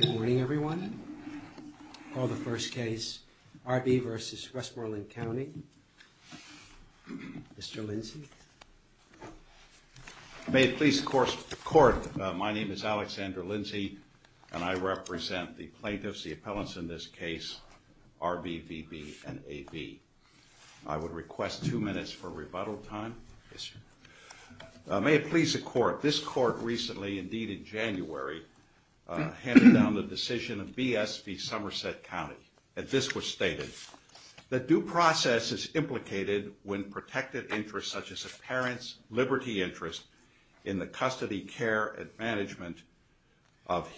Good morning, everyone. I'll call the first case, R.B. v. Westmoreland County. Mr. Lindsey. May it please the court, my name is Alexander Lindsey and I represent the plaintiffs, the appellants in this case, R.B., V.B., and A.B. I would request two minutes for rebuttal time. May it please the court, this court recently, indeed in January, handed down the decision of B.S. v. Somerset County, and this was stated. The due process is implicated when protective interests such as a parent's liberty interest in the custody, care, and management of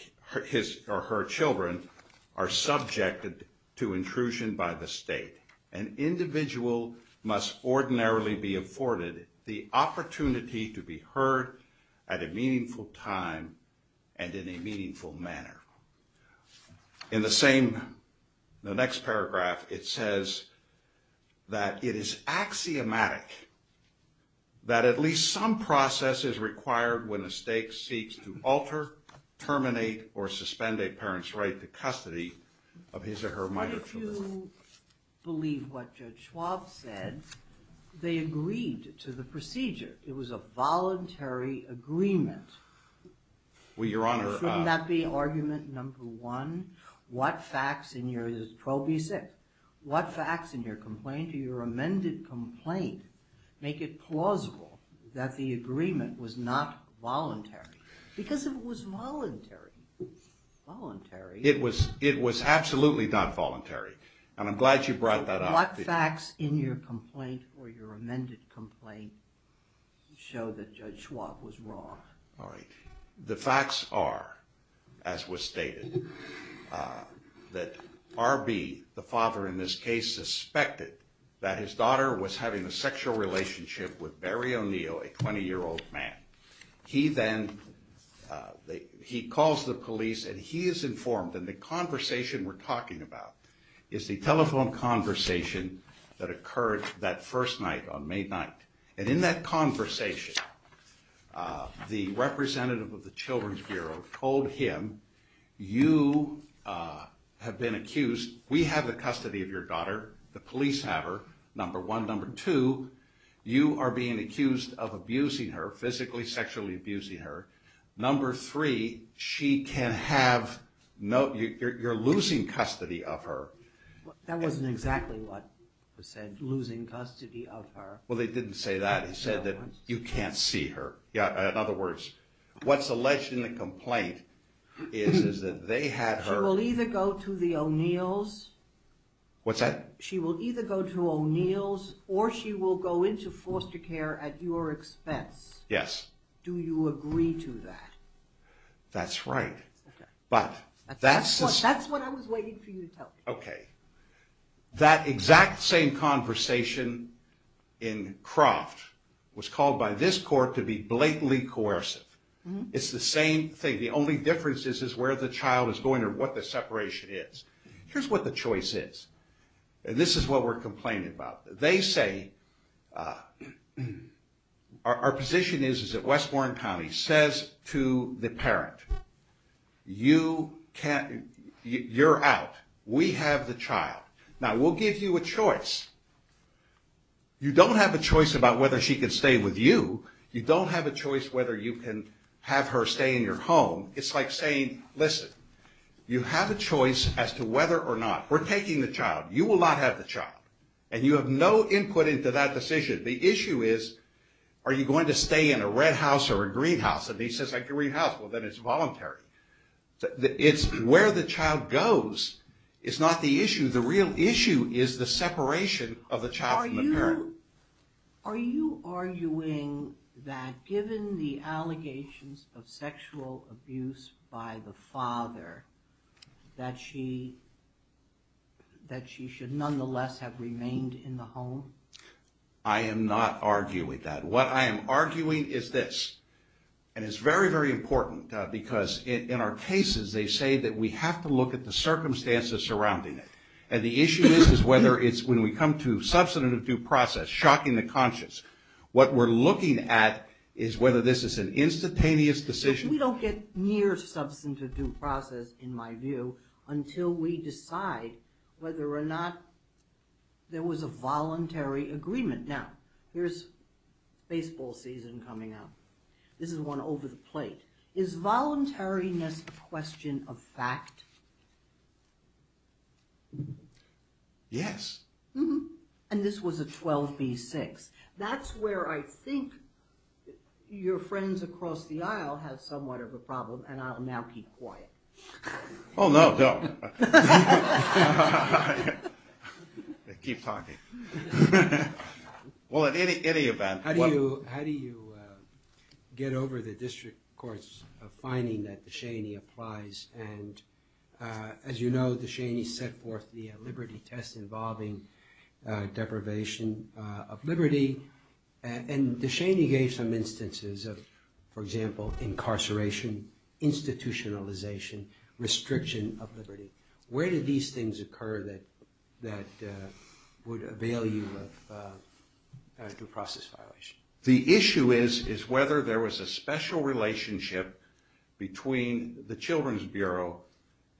his or her children are subjected to intrusion by the state. An individual must ordinarily be afforded the opportunity to be heard at a meaningful time and in a meaningful manner. In the same, the next paragraph, it says that it is axiomatic that at least some process is required when a state seeks to alter, terminate, or suspend a parent's right to custody of his or her minor children. I do believe what Judge Schwab said. They agreed to the procedure. It was a voluntary agreement. Well, Your Honor. Shouldn't that be argument number one? What facts in your 12B6, what facts in your complaint, in your amended complaint, make it plausible that the agreement was not voluntary? Because it was voluntary. Voluntary. It was absolutely not voluntary, and I'm glad you brought that up. What facts in your complaint or your amended complaint show that Judge Schwab was wrong? The facts are, as was stated, that RB, the father in this case, suspected that his daughter was having a sexual relationship with Barry O'Neill, a 20-year-old man. He then, he calls the police and he is informed, and the conversation we're talking about is the telephone conversation that occurred that first night on May 9th. And in that conversation, the representative of the Children's Bureau told him, you have been accused, we have the custody of your daughter, the police have her, number one. Number two, you are being accused of abusing her, physically, sexually abusing her. Number three, she can have, you're losing custody of her. That wasn't exactly what was said, losing custody of her. Well, they didn't say that, they said that you can't see her. In other words, what's alleged in the complaint is that they had her... She will either go to the O'Neills... What's that? She will either go to O'Neills or she will go into foster care at your expense. Yes. Do you agree to that? That's right. That's what I was waiting for you to tell me. Okay, that exact same conversation in Croft was called by this court to be blatantly coercive. It's the same thing, the only difference is where the child is going or what the separation is. Here's what the choice is, and this is what we're complaining about. They say, our position is that Westmoreland County says to the parent, you can't, you're out, we have the child. Now, we'll give you a choice. You don't have a choice about whether she can stay with you. You don't have a choice whether you can have her stay in your home. It's like saying, listen, you have a choice as to whether or not we're taking the child. You will not have the child, and you have no input into that decision. The issue is, are you going to stay in a red house or a green house? If he says a green house, well, then it's voluntary. It's where the child goes is not the issue. The real issue is the separation of the child from the parent. Are you arguing that given the allegations of sexual abuse by the father, that she should nonetheless have remained in the home? I am not arguing that. What I am arguing is this, and it's very, very important because in our cases, they say that we have to look at the circumstances surrounding it. The issue is whether it's when we come to substantive due process, shocking the conscious. What we're looking at is whether this is an instantaneous decision. We don't get near substantive due process, in my view, until we decide whether or not there was a voluntary agreement. Now, here's baseball season coming up. This is one over the plate. Is voluntariness a question of fact? Yes. And this was a 12B6. That's where I think your friends across the aisle have somewhat of a problem, and I'll now be quiet. Oh, no, don't. Keep talking. Well, in any event. How do you get over the district court's finding that De Cheney applies, and as you know, De Cheney set forth the liberty test involving deprivation of liberty, and De Cheney gave some instances of, for example, incarceration, institutionalization, restriction of liberty. Where do these things occur that would avail you of due process violation? The issue is whether there was a special relationship between the Children's Bureau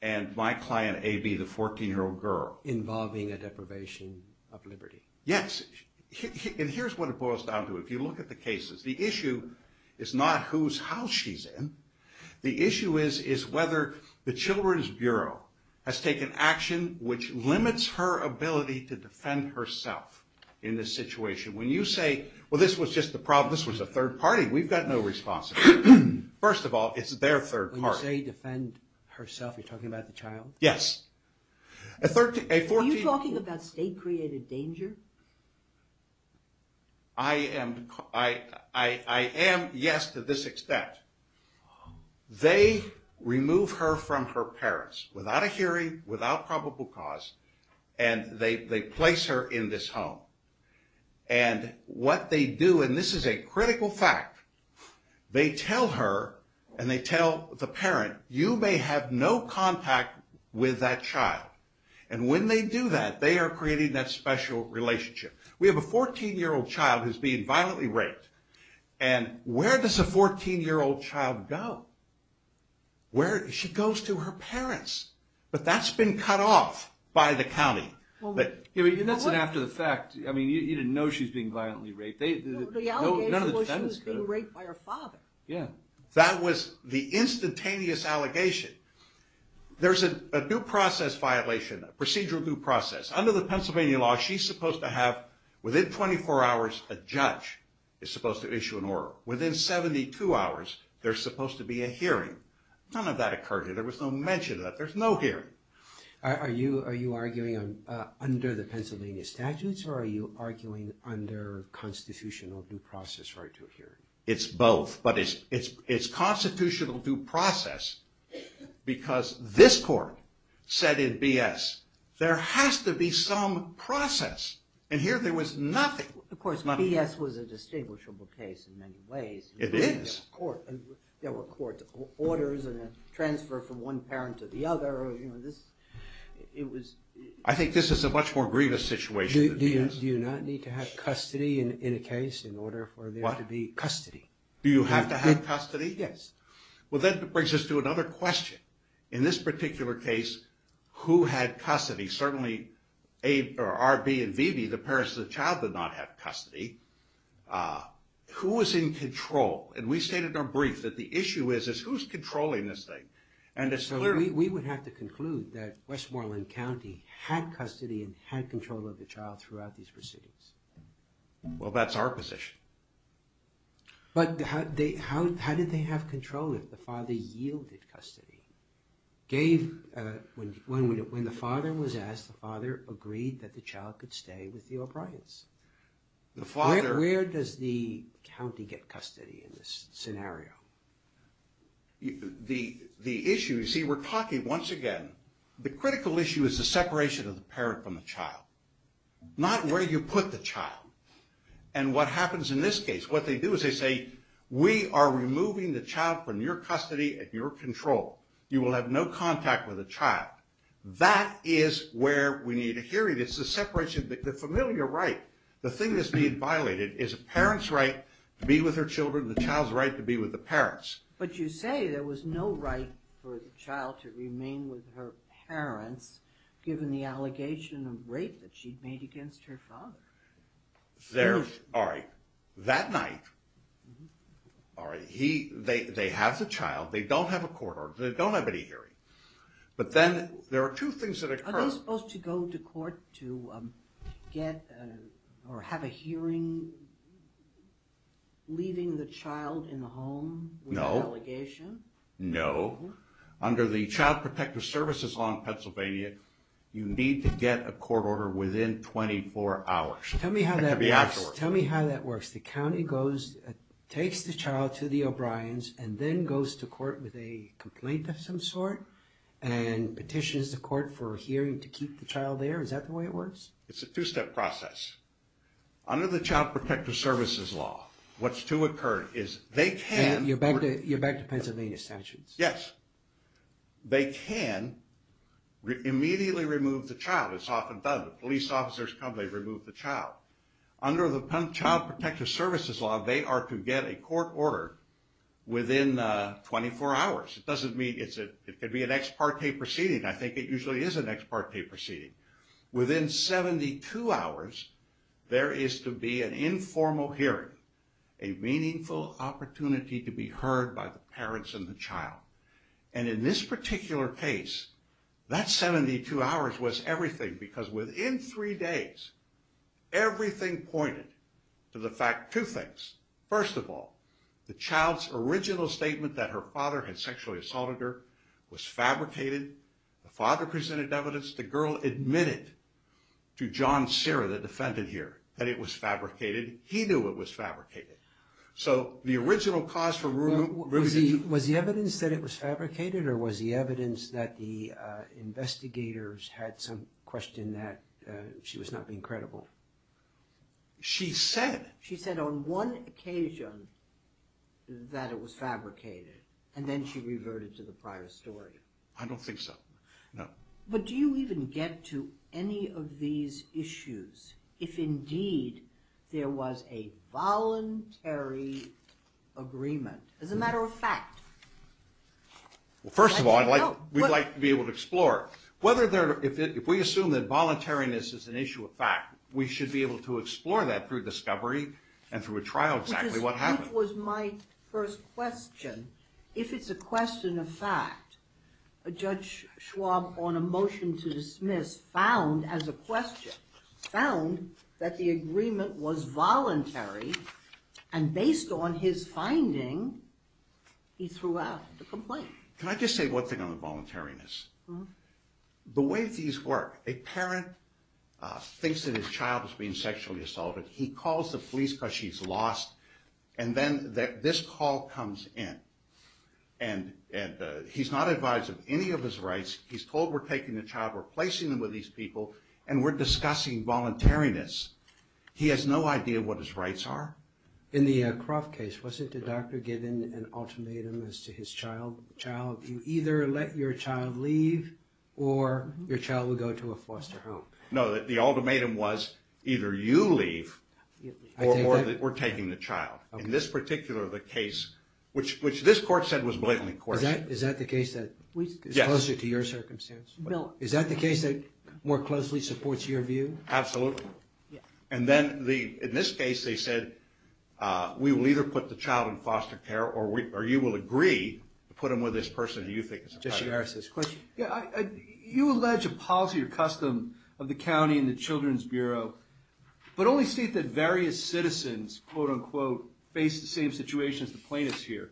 and my client, A.B., the 14-year-old girl. Involving a deprivation of liberty. Yes, and here's what it boils down to. If you look at the cases, the issue is not whose house she's in. The issue is whether the Children's Bureau has taken action which limits her ability to defend herself in this situation. When you say, well, this was just a third party. We've got no responsibility. First of all, it's their third party. When you say defend herself, you're talking about the child? Yes. Are you talking about state-created danger? I am, yes, to this extent. They remove her from her parents without a hearing, without probable cause, and they place her in this home. And what they do, and this is a critical fact, they tell her and they tell the parent, you may have no contact with that child. And when they do that, they are creating that special relationship. We have a 14-year-old child who's being violently raped. And where does a 14-year-old child go? She goes to her parents. But that's been cut off by the county. That's an after the fact. You didn't know she was being violently raped. The allegation was she was being raped by her father. That was the instantaneous allegation. There's a due process violation, a procedural due process. Under the Pennsylvania law, she's supposed to have, within 24 hours, a judge is supposed to issue an order. Within 72 hours, there's supposed to be a hearing. None of that occurred here. There was no mention of that. There's no hearing. Are you arguing under the Pennsylvania statutes, or are you arguing under constitutional due process for a due hearing? It's both. But it's constitutional due process because this court said in BS, there has to be some process. And here there was nothing. Of course, BS was a distinguishable case in many ways. It is. There were court orders and a transfer from one parent to the other. I think this is a much more grievous situation than BS. Do you not need to have custody in a case in order for there to be custody? Do you have to have custody? Yes. Well, that brings us to another question. In this particular case, who had custody? Certainly, R.B. and V.B., the parents of the child, did not have custody. Who was in control? And we stated in our brief that the issue is, is who's controlling this thing? So we would have to conclude that Westmoreland County had custody and had control of the child throughout these proceedings. Well, that's our position. But how did they have control if the father yielded custody? When the father was asked, the father agreed that the child could stay with the O'Briens. Where does the county get custody in this scenario? The issue, you see, we're talking once again, the critical issue is the separation of the parent from the child. Not where you put the child. And what happens in this case, what they do is they say, we are removing the child from your custody and your control. You will have no contact with the child. That is where we need a hearing. It's the separation, the familiar right. The thing that's being violated is a parent's right to be with their children, the child's right to be with the parents. But you say there was no right for the child to remain with her parents, given the allegation of rape that she'd made against her father. All right. That night, they have the child. They don't have a court order. They don't have any hearing. But then there are two things that occur. Are they supposed to go to court to get or have a hearing leaving the child in the home? No. With the allegation? No. Under the Child Protective Services Law in Pennsylvania, you need to get a court order within 24 hours. Tell me how that works. The county takes the child to the O'Briens and then goes to court with a complaint of some sort and petitions the court for a hearing to keep the child there. Is that the way it works? It's a two-step process. Under the Child Protective Services Law, what's to occur is they can – You're back to Pennsylvania statutes. Yes. They can immediately remove the child. It's often done. The police officers come, they remove the child. Under the Child Protective Services Law, they are to get a court order within 24 hours. It doesn't mean it's – it could be an ex parte proceeding. I think it usually is an ex parte proceeding. Within 72 hours, there is to be an informal hearing, a meaningful opportunity to be heard by the parents and the child. And in this particular case, that 72 hours was everything because within three days, everything pointed to the fact two things. First of all, the child's original statement that her father had sexually assaulted her was fabricated. The father presented evidence. The girl admitted to John Serra, the defendant here, that it was fabricated. He knew it was fabricated. So the original cause for removing – Was the evidence that it was fabricated or was the evidence that the investigators had some question that she was not being credible? She said – She said on one occasion that it was fabricated, and then she reverted to the prior story. I don't think so, no. But do you even get to any of these issues if indeed there was a voluntary agreement? As a matter of fact. Well, first of all, I'd like – we'd like to be able to explore whether there – if we assume that voluntariness is an issue of fact, we should be able to explore that through discovery and through a trial exactly what happened. Which was my first question. If it's a question of fact, Judge Schwab, on a motion to dismiss, found as a question, found that the agreement was voluntary, and based on his finding, he threw out the complaint. Can I just say one thing on the voluntariness? The way these work, a parent thinks that his child is being sexually assaulted. He calls the police because she's lost, and then this call comes in. And he's not advised of any of his rights. He's told we're taking the child, replacing him with these people, and we're discussing voluntariness. He has no idea what his rights are. In the Croft case, wasn't the doctor given an ultimatum as to his child? You either let your child leave, or your child would go to a foster home. No, the ultimatum was either you leave, or we're taking the child. In this particular case, which this court said was blatantly coercive. Is that the case that is closer to your circumstance? No. Is that the case that more closely supports your view? Absolutely. And then in this case, they said we will either put the child in foster care, or you will agree to put him with this person you think is a threat. Jesse Harris has a question. You allege a policy or custom of the county and the Children's Bureau, but only state that various citizens, quote, unquote, face the same situation as the plaintiffs here.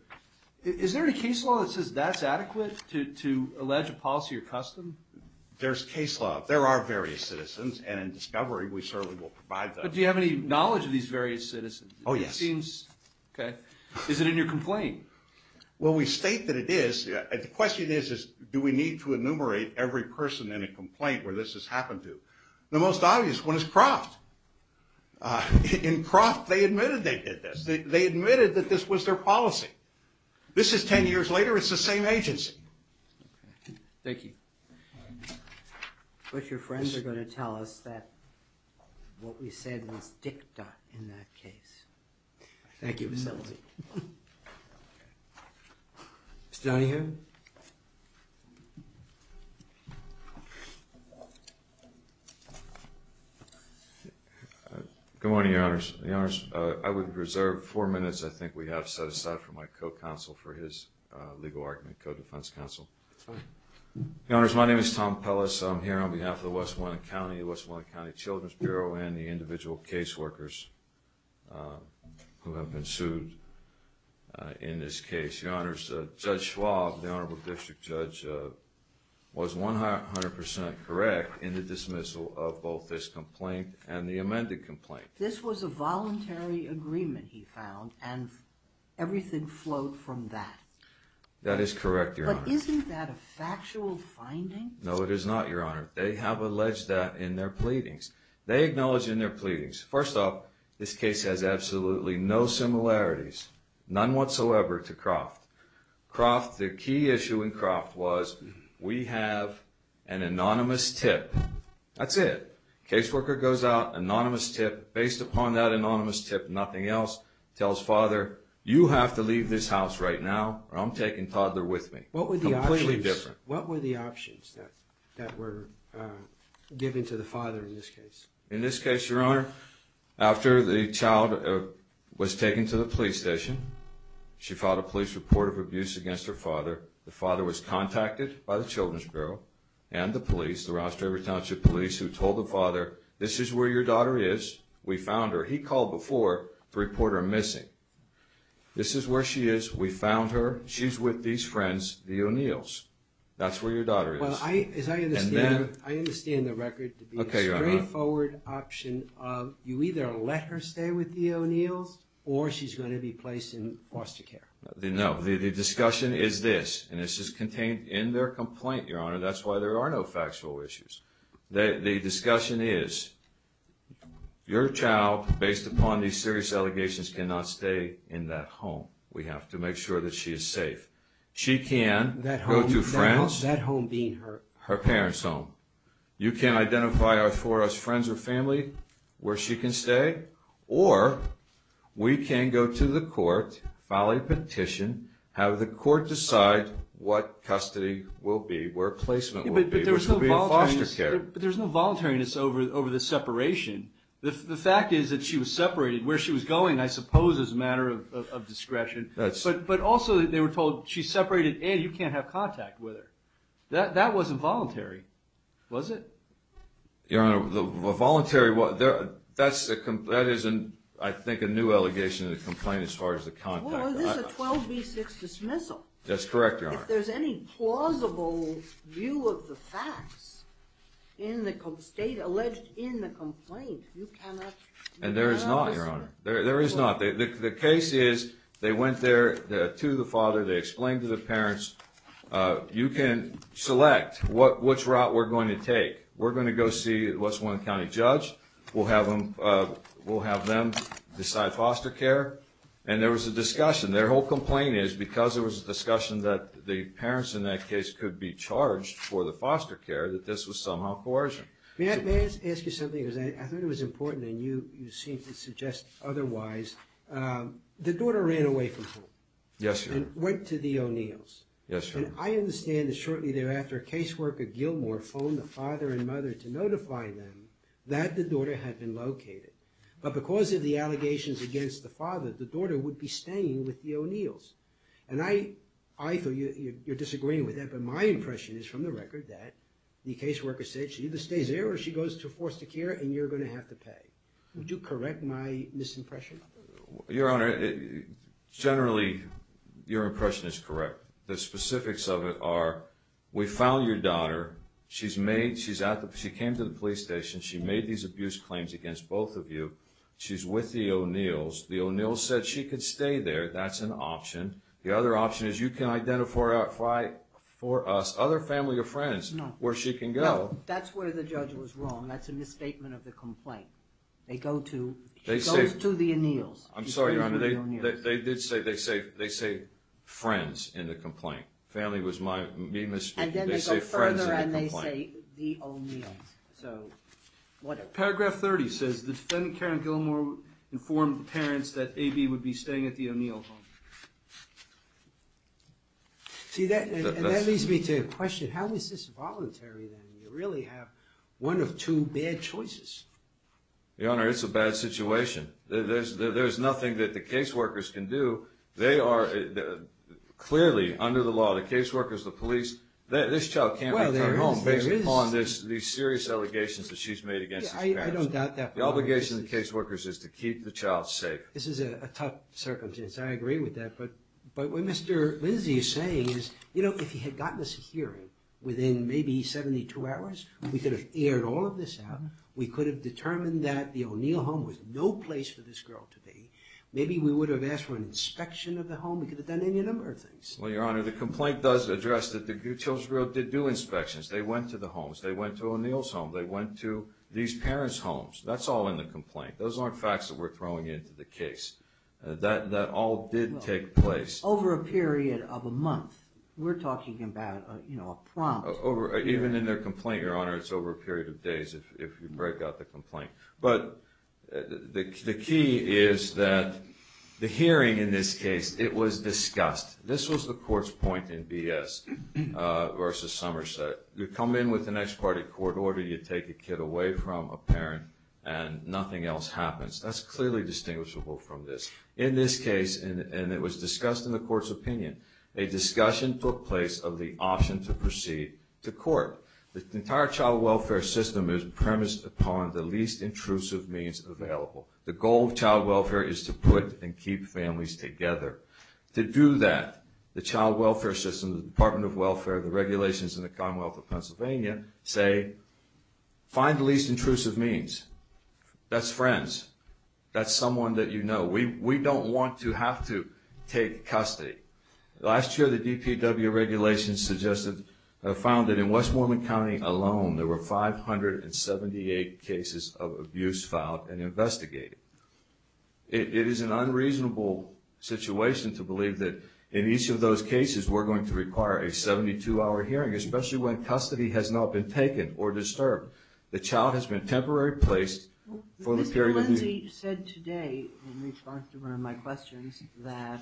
Is there any case law that says that's adequate to allege a policy or custom? There's case law. There are various citizens, and in discovery, we certainly will provide them. But do you have any knowledge of these various citizens? Oh, yes. Okay. Is it in your complaint? Well, we state that it is. The question is, do we need to enumerate every person in a complaint where this has happened to? The most obvious one is Croft. In Croft, they admitted they did this. They admitted that this was their policy. This is 10 years later. It's the same agency. Thank you. But your friends are going to tell us that what we said was dicta in that case. Thank you. Thank you. Mr. Donahue? Good morning, Your Honors. Your Honors, I would reserve four minutes I think we have set aside for my co-counsel for his legal argument, co-defense counsel. Your Honors, my name is Tom Pellis. I'm here on behalf of the West Winona County, the West Winona County Children's Bureau, and the individual case workers who have been sued in this case. Your Honors, Judge Schwab, the Honorable District Judge, was 100% correct in the dismissal of both this complaint and the amended complaint. This was a voluntary agreement, he found, and everything flowed from that. That is correct, Your Honor. But isn't that a factual finding? No, it is not, Your Honor. They have alleged that in their pleadings. They acknowledge in their pleadings. First off, this case has absolutely no similarities, none whatsoever, to Croft. Croft, the key issue in Croft was we have an anonymous tip. That's it. Case worker goes out, anonymous tip. Based upon that anonymous tip, nothing else. Tells father, you have to leave this house right now or I'm taking Toddler with me. Completely different. What were the options that were given to the father in this case? In this case, Your Honor, after the child was taken to the police station, she filed a police report of abuse against her father. The father was contacted by the Children's Bureau and the police, the Ross-Draper Township Police, who told the father, this is where your daughter is. We found her. He called before to report her missing. This is where she is. We found her. She's with these friends, the O'Neills. That's where your daughter is. As I understand, I understand the record to be a straightforward option of you either let her stay with the O'Neills or she's going to be placed in foster care. No. The discussion is this, and this is contained in their complaint, Your Honor. That's why there are no factual issues. The discussion is your child, based upon these serious allegations, cannot stay in that home. We have to make sure that she is safe. She can go to France, her parents' home. You can identify for us friends or family where she can stay, or we can go to the court, file a petition, have the court decide what custody will be, where placement will be, which will be in foster care. But there's no voluntariness over the separation. The fact is that she was separated. Where she was going, I suppose, is a matter of discretion. But also they were told she's separated, and you can't have contact with her. That wasn't voluntary, was it? Your Honor, the voluntary, that is, I think, a new allegation in the complaint as far as the contact. Well, this is a 12B6 dismissal. That's correct, Your Honor. If there's any plausible view of the facts in the state alleged in the complaint, And there is not, Your Honor. There is not. The case is they went there to the father. They explained to the parents. You can select which route we're going to take. We're going to go see what's one county judge. We'll have them decide foster care. And there was a discussion. Their whole complaint is because there was a discussion that the parents in that case could be charged for the foster care, that this was somehow coercion. May I ask you something? Because I thought it was important, and you seem to suggest otherwise. The daughter ran away from home. Yes, Your Honor. And went to the O'Neills. Yes, Your Honor. And I understand that shortly thereafter, caseworker Gilmore phoned the father and mother to notify them that the daughter had been located. But because of the allegations against the father, the daughter would be staying with the O'Neills. And I thought you're disagreeing with that, but my impression is from the record that the caseworker said she either stays there or she goes to foster care, and you're going to have to pay. Would you correct my misimpression? Your Honor, generally your impression is correct. The specifics of it are we found your daughter. She came to the police station. She made these abuse claims against both of you. She's with the O'Neills. The O'Neills said she could stay there. That's an option. The other option is you can identify for us other family or friends where she can go. No, that's where the judge was wrong. That's a misstatement of the complaint. They go to the O'Neills. I'm sorry, Your Honor. They say friends in the complaint. Family was my misstatement. And then they go further and they say the O'Neills. So whatever. Paragraph 30 says the defendant, Karen Gilmore, informed the parents that A.B. would be staying at the O'Neill home. See, that leads me to a question. How is this voluntary then? You really have one of two bad choices. Your Honor, it's a bad situation. There's nothing that the caseworkers can do. They are clearly under the law, the caseworkers, the police. This child can't be turned home based upon these serious allegations that she's made against these parents. I don't doubt that. The obligation of the caseworkers is to keep the child safe. This is a tough circumstance. I agree with that. But what Mr. Lindsay is saying is, you know, if he had gotten us a hearing within maybe 72 hours, we could have aired all of this out. We could have determined that the O'Neill home was no place for this girl to be. Maybe we would have asked for an inspection of the home. We could have done any number of things. Well, Your Honor, the complaint does address that the children's group did do inspections. They went to the homes. They went to O'Neill's home. They went to these parents' homes. That's all in the complaint. Those aren't facts that we're throwing into the case. That all did take place. Over a period of a month. We're talking about, you know, a prompt. Even in their complaint, Your Honor, it's over a period of days if you break out the complaint. But the key is that the hearing in this case, it was discussed. This was the court's point in BS versus Somerset. You come in with an ex parte court order. You take a kid away from a parent and nothing else happens. That's clearly distinguishable from this. In this case, and it was discussed in the court's opinion, a discussion took place of the option to proceed to court. The entire child welfare system is premised upon the least intrusive means available. The goal of child welfare is to put and keep families together. To do that, the child welfare system, the Department of Welfare, the regulations in the Commonwealth of Pennsylvania say, find the least intrusive means. That's friends. That's someone that you know. We don't want to have to take custody. Last year, the DPW regulations suggested, found that in Westmoreland County alone, there were 578 cases of abuse filed and investigated. It is an unreasonable situation to believe that in each of those cases, we're going to require a 72-hour hearing, especially when custody has not been taken or disturbed. The child has been temporarily placed for the period... Mr. Lindsey said today, in response to one of my questions, that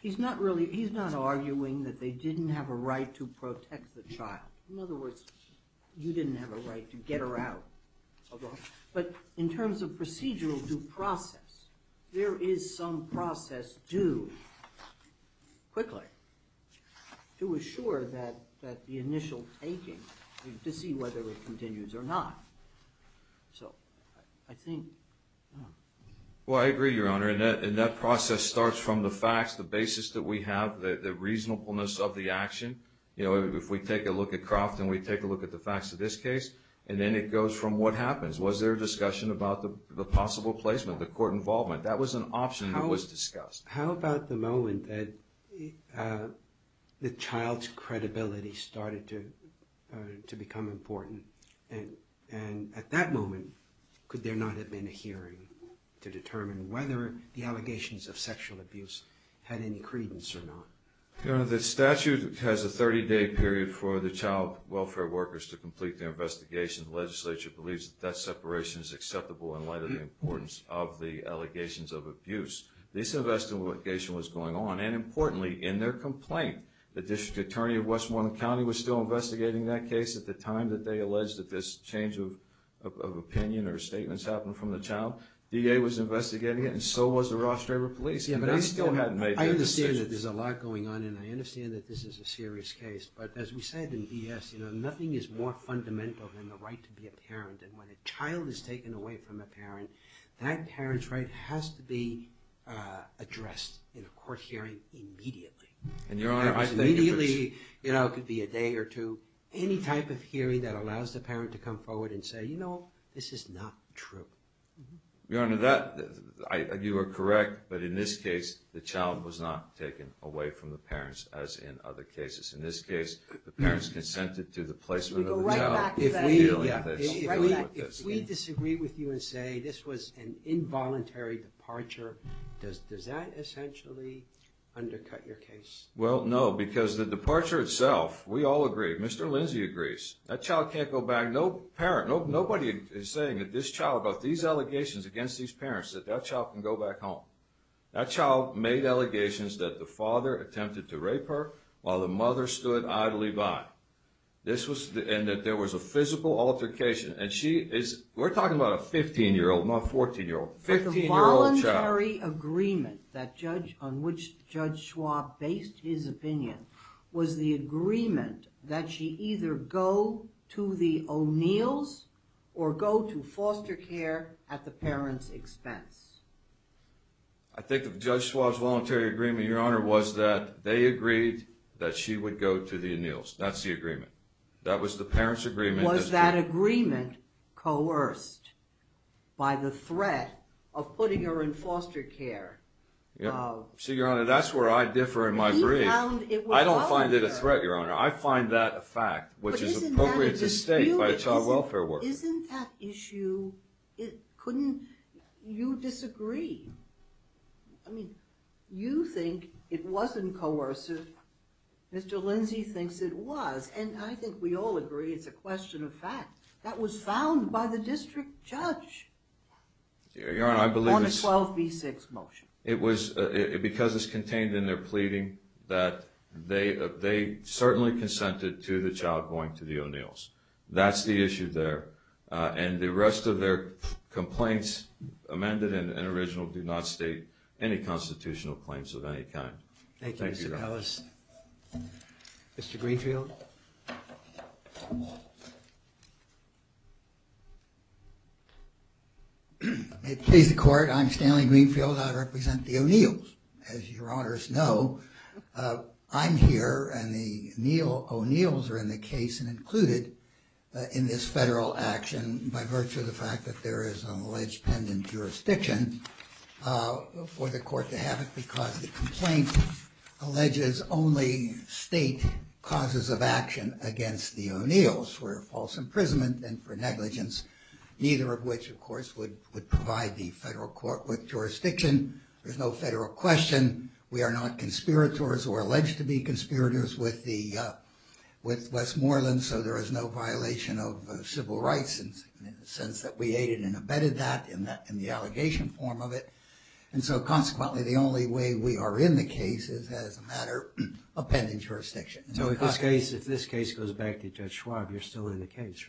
he's not arguing that they didn't have a right to protect the child. In other words, you didn't have a right to get her out. But in terms of procedural due process, there is some process due, quickly, to assure that the initial taking, to see whether it continues or not. So, I think... Well, I agree, Your Honor. And that process starts from the facts, the basis that we have, the reasonableness of the action. You know, if we take a look at Crofton, we take a look at the facts of this case, and then it goes from what happens. Was there discussion about the possible placement, the court involvement? That was an option that was discussed. How about the moment that the child's credibility started to become important? And at that moment, could there not have been a hearing to determine whether the allegations of sexual abuse had any credence or not? Your Honor, the statute has a 30-day period for the child welfare workers to complete their investigation. The legislature believes that that separation is acceptable in light of the importance of the allegations of abuse. This investigation was going on. And importantly, in their complaint, the District Attorney of Westmoreland County was still investigating that case at the time that they alleged that this change of opinion or statements happened from the child. DA was investigating it, and so was the Ross-Draper Police. They still hadn't made their decision. I understand that there's a lot going on, and I understand that this is a serious case. But as we said in ES, nothing is more fundamental than the right to be a parent. And when a child is taken away from a parent, that parent's right has to be addressed in a court hearing immediately. And, Your Honor, I think if it's... Immediately, you know, it could be a day or two. Any type of hearing that allows the parent to come forward and say, you know, this is not true. Your Honor, that, you are correct, but in this case, the child was not taken away from the parents as in other cases. In this case, the parents consented to the placement of the child. If we disagree with you and say, this was an involuntary departure, does that essentially undercut your case? Well, no, because the departure itself, we all agree, Mr. Lindsay agrees. That child can't go back. No parent, nobody is saying that this child, about these allegations against these parents, that that child can go back home. That child made allegations that the father attempted to rape her while the mother stood idly by. This was... And that there was a physical altercation. And she is, we're talking about a 15-year-old, not a 14-year-old, 15-year-old child. But the voluntary agreement on which Judge Schwab based his opinion was the agreement that she either go to the O'Neills or go to foster care at the parent's expense. I think that Judge Schwab's voluntary agreement, Your Honor, was that they agreed that she would go to the O'Neills. That's the agreement. That was the parent's agreement. Was that agreement coerced by the threat of putting her in foster care? See, Your Honor, that's where I differ in my brief. I don't find it a threat, Your Honor. I find that a fact, which is appropriate to state by a child welfare worker. Isn't that issue... Couldn't... You disagree. I mean, you think it wasn't coercive. Mr. Lindsay thinks it was. And I think we all agree it's a question of fact that was found by the district judge on the 12B6 motion. It was because it's contained in their pleading that they certainly consented to the child going to the O'Neills. That's the issue there. And the rest of their complaints amended and original do not state any constitutional claims of any kind. Thank you, Mr. Powis. Mr. Greenfield. May it please the Court, I'm Stanley Greenfield. I represent the O'Neills. As Your Honors know, I'm here and the O'Neills are in the case and included in this federal action by virtue of the fact that there is an alleged pendant jurisdiction for the Court to have it because the complaint alleges only state causes of action against the O'Neills for false imprisonment and for negligence, neither of which, of course, would provide the federal court with jurisdiction. There's no federal question. We are not conspirators or alleged to be conspirators with Westmoreland, so there is no violation of civil rights in the sense that we aided and abetted that in the allegation form of it. And so consequently, the only way we are in the case is as a matter of pendant jurisdiction. So if this case goes back to Judge Schwab, you're still in the case,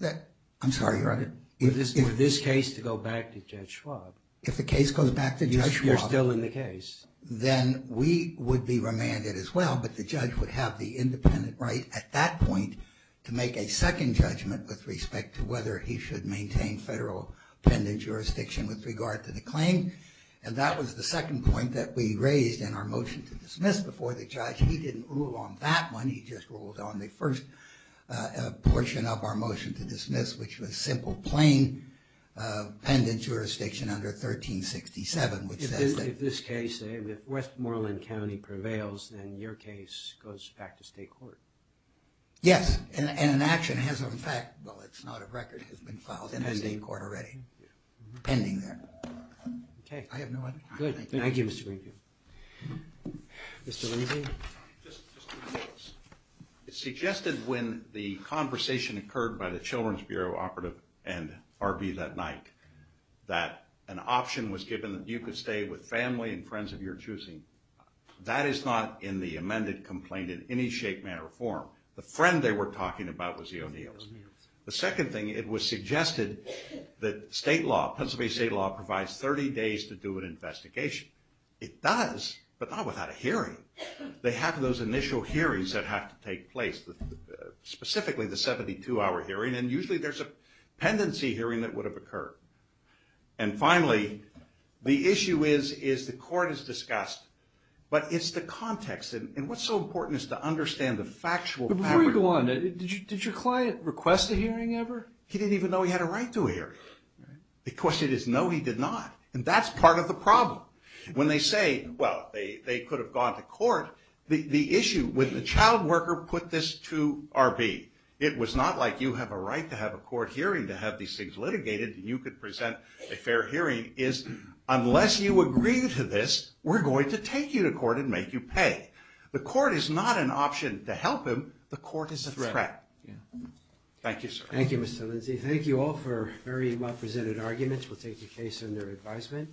right? I'm sorry, Your Honor? For this case to go back to Judge Schwab. If the case goes back to Judge Schwab. You're still in the case. Then we would be remanded as well, but the judge would have the independent right at that point to make a second judgment with respect to whether he should maintain federal pendant jurisdiction with regard to the claim. And that was the second point that we raised in our motion to dismiss before the judge. He didn't rule on that one. He just ruled on the first portion of our motion to dismiss, which was simple plain pendent jurisdiction under 1367, which says that... If this case, if Westmoreland County prevails, then your case goes back to state court. Yes, and an action has, in fact, well, it's not a record. It's been filed in the state court already. Thank you. Ending there. Okay. I have no other... Good. Thank you, Mr. Greenfield. Mr. Lindsey? Just two things. It's suggested when the conversation occurred by the Children's Bureau operative and RV that night that an option was given that you could stay with family and friends of your choosing. That is not in the amended complaint in any shape, manner, or form. The friend they were talking about was the O'Neills. The second thing, it was suggested that state law, Pennsylvania state law, provides 30 days to do an investigation. It does, but not without a hearing. They have those initial hearings that have to take place, specifically the 72-hour hearing, and usually there's a pendency hearing that would have occurred. And finally, the issue is, is the court has discussed, but it's the context, and what's so important is to understand the factual fabric. Before you go on, did your client request a hearing ever? He didn't even know he had a right to a hearing. The question is, no he did not. And that's part of the problem. When they say, well, they could have gone to court, the issue with the child worker put this to RV. It was not like you have a right to have a court hearing to have these things litigated and you could present a fair hearing. Unless you agree to this, we're going to take you to court and make you pay. The court is not an option to help him. The court is a threat. Thank you, sir. Thank you, Mr. Lindsay. Thank you all for very well presented arguments. We'll take your case under advisement.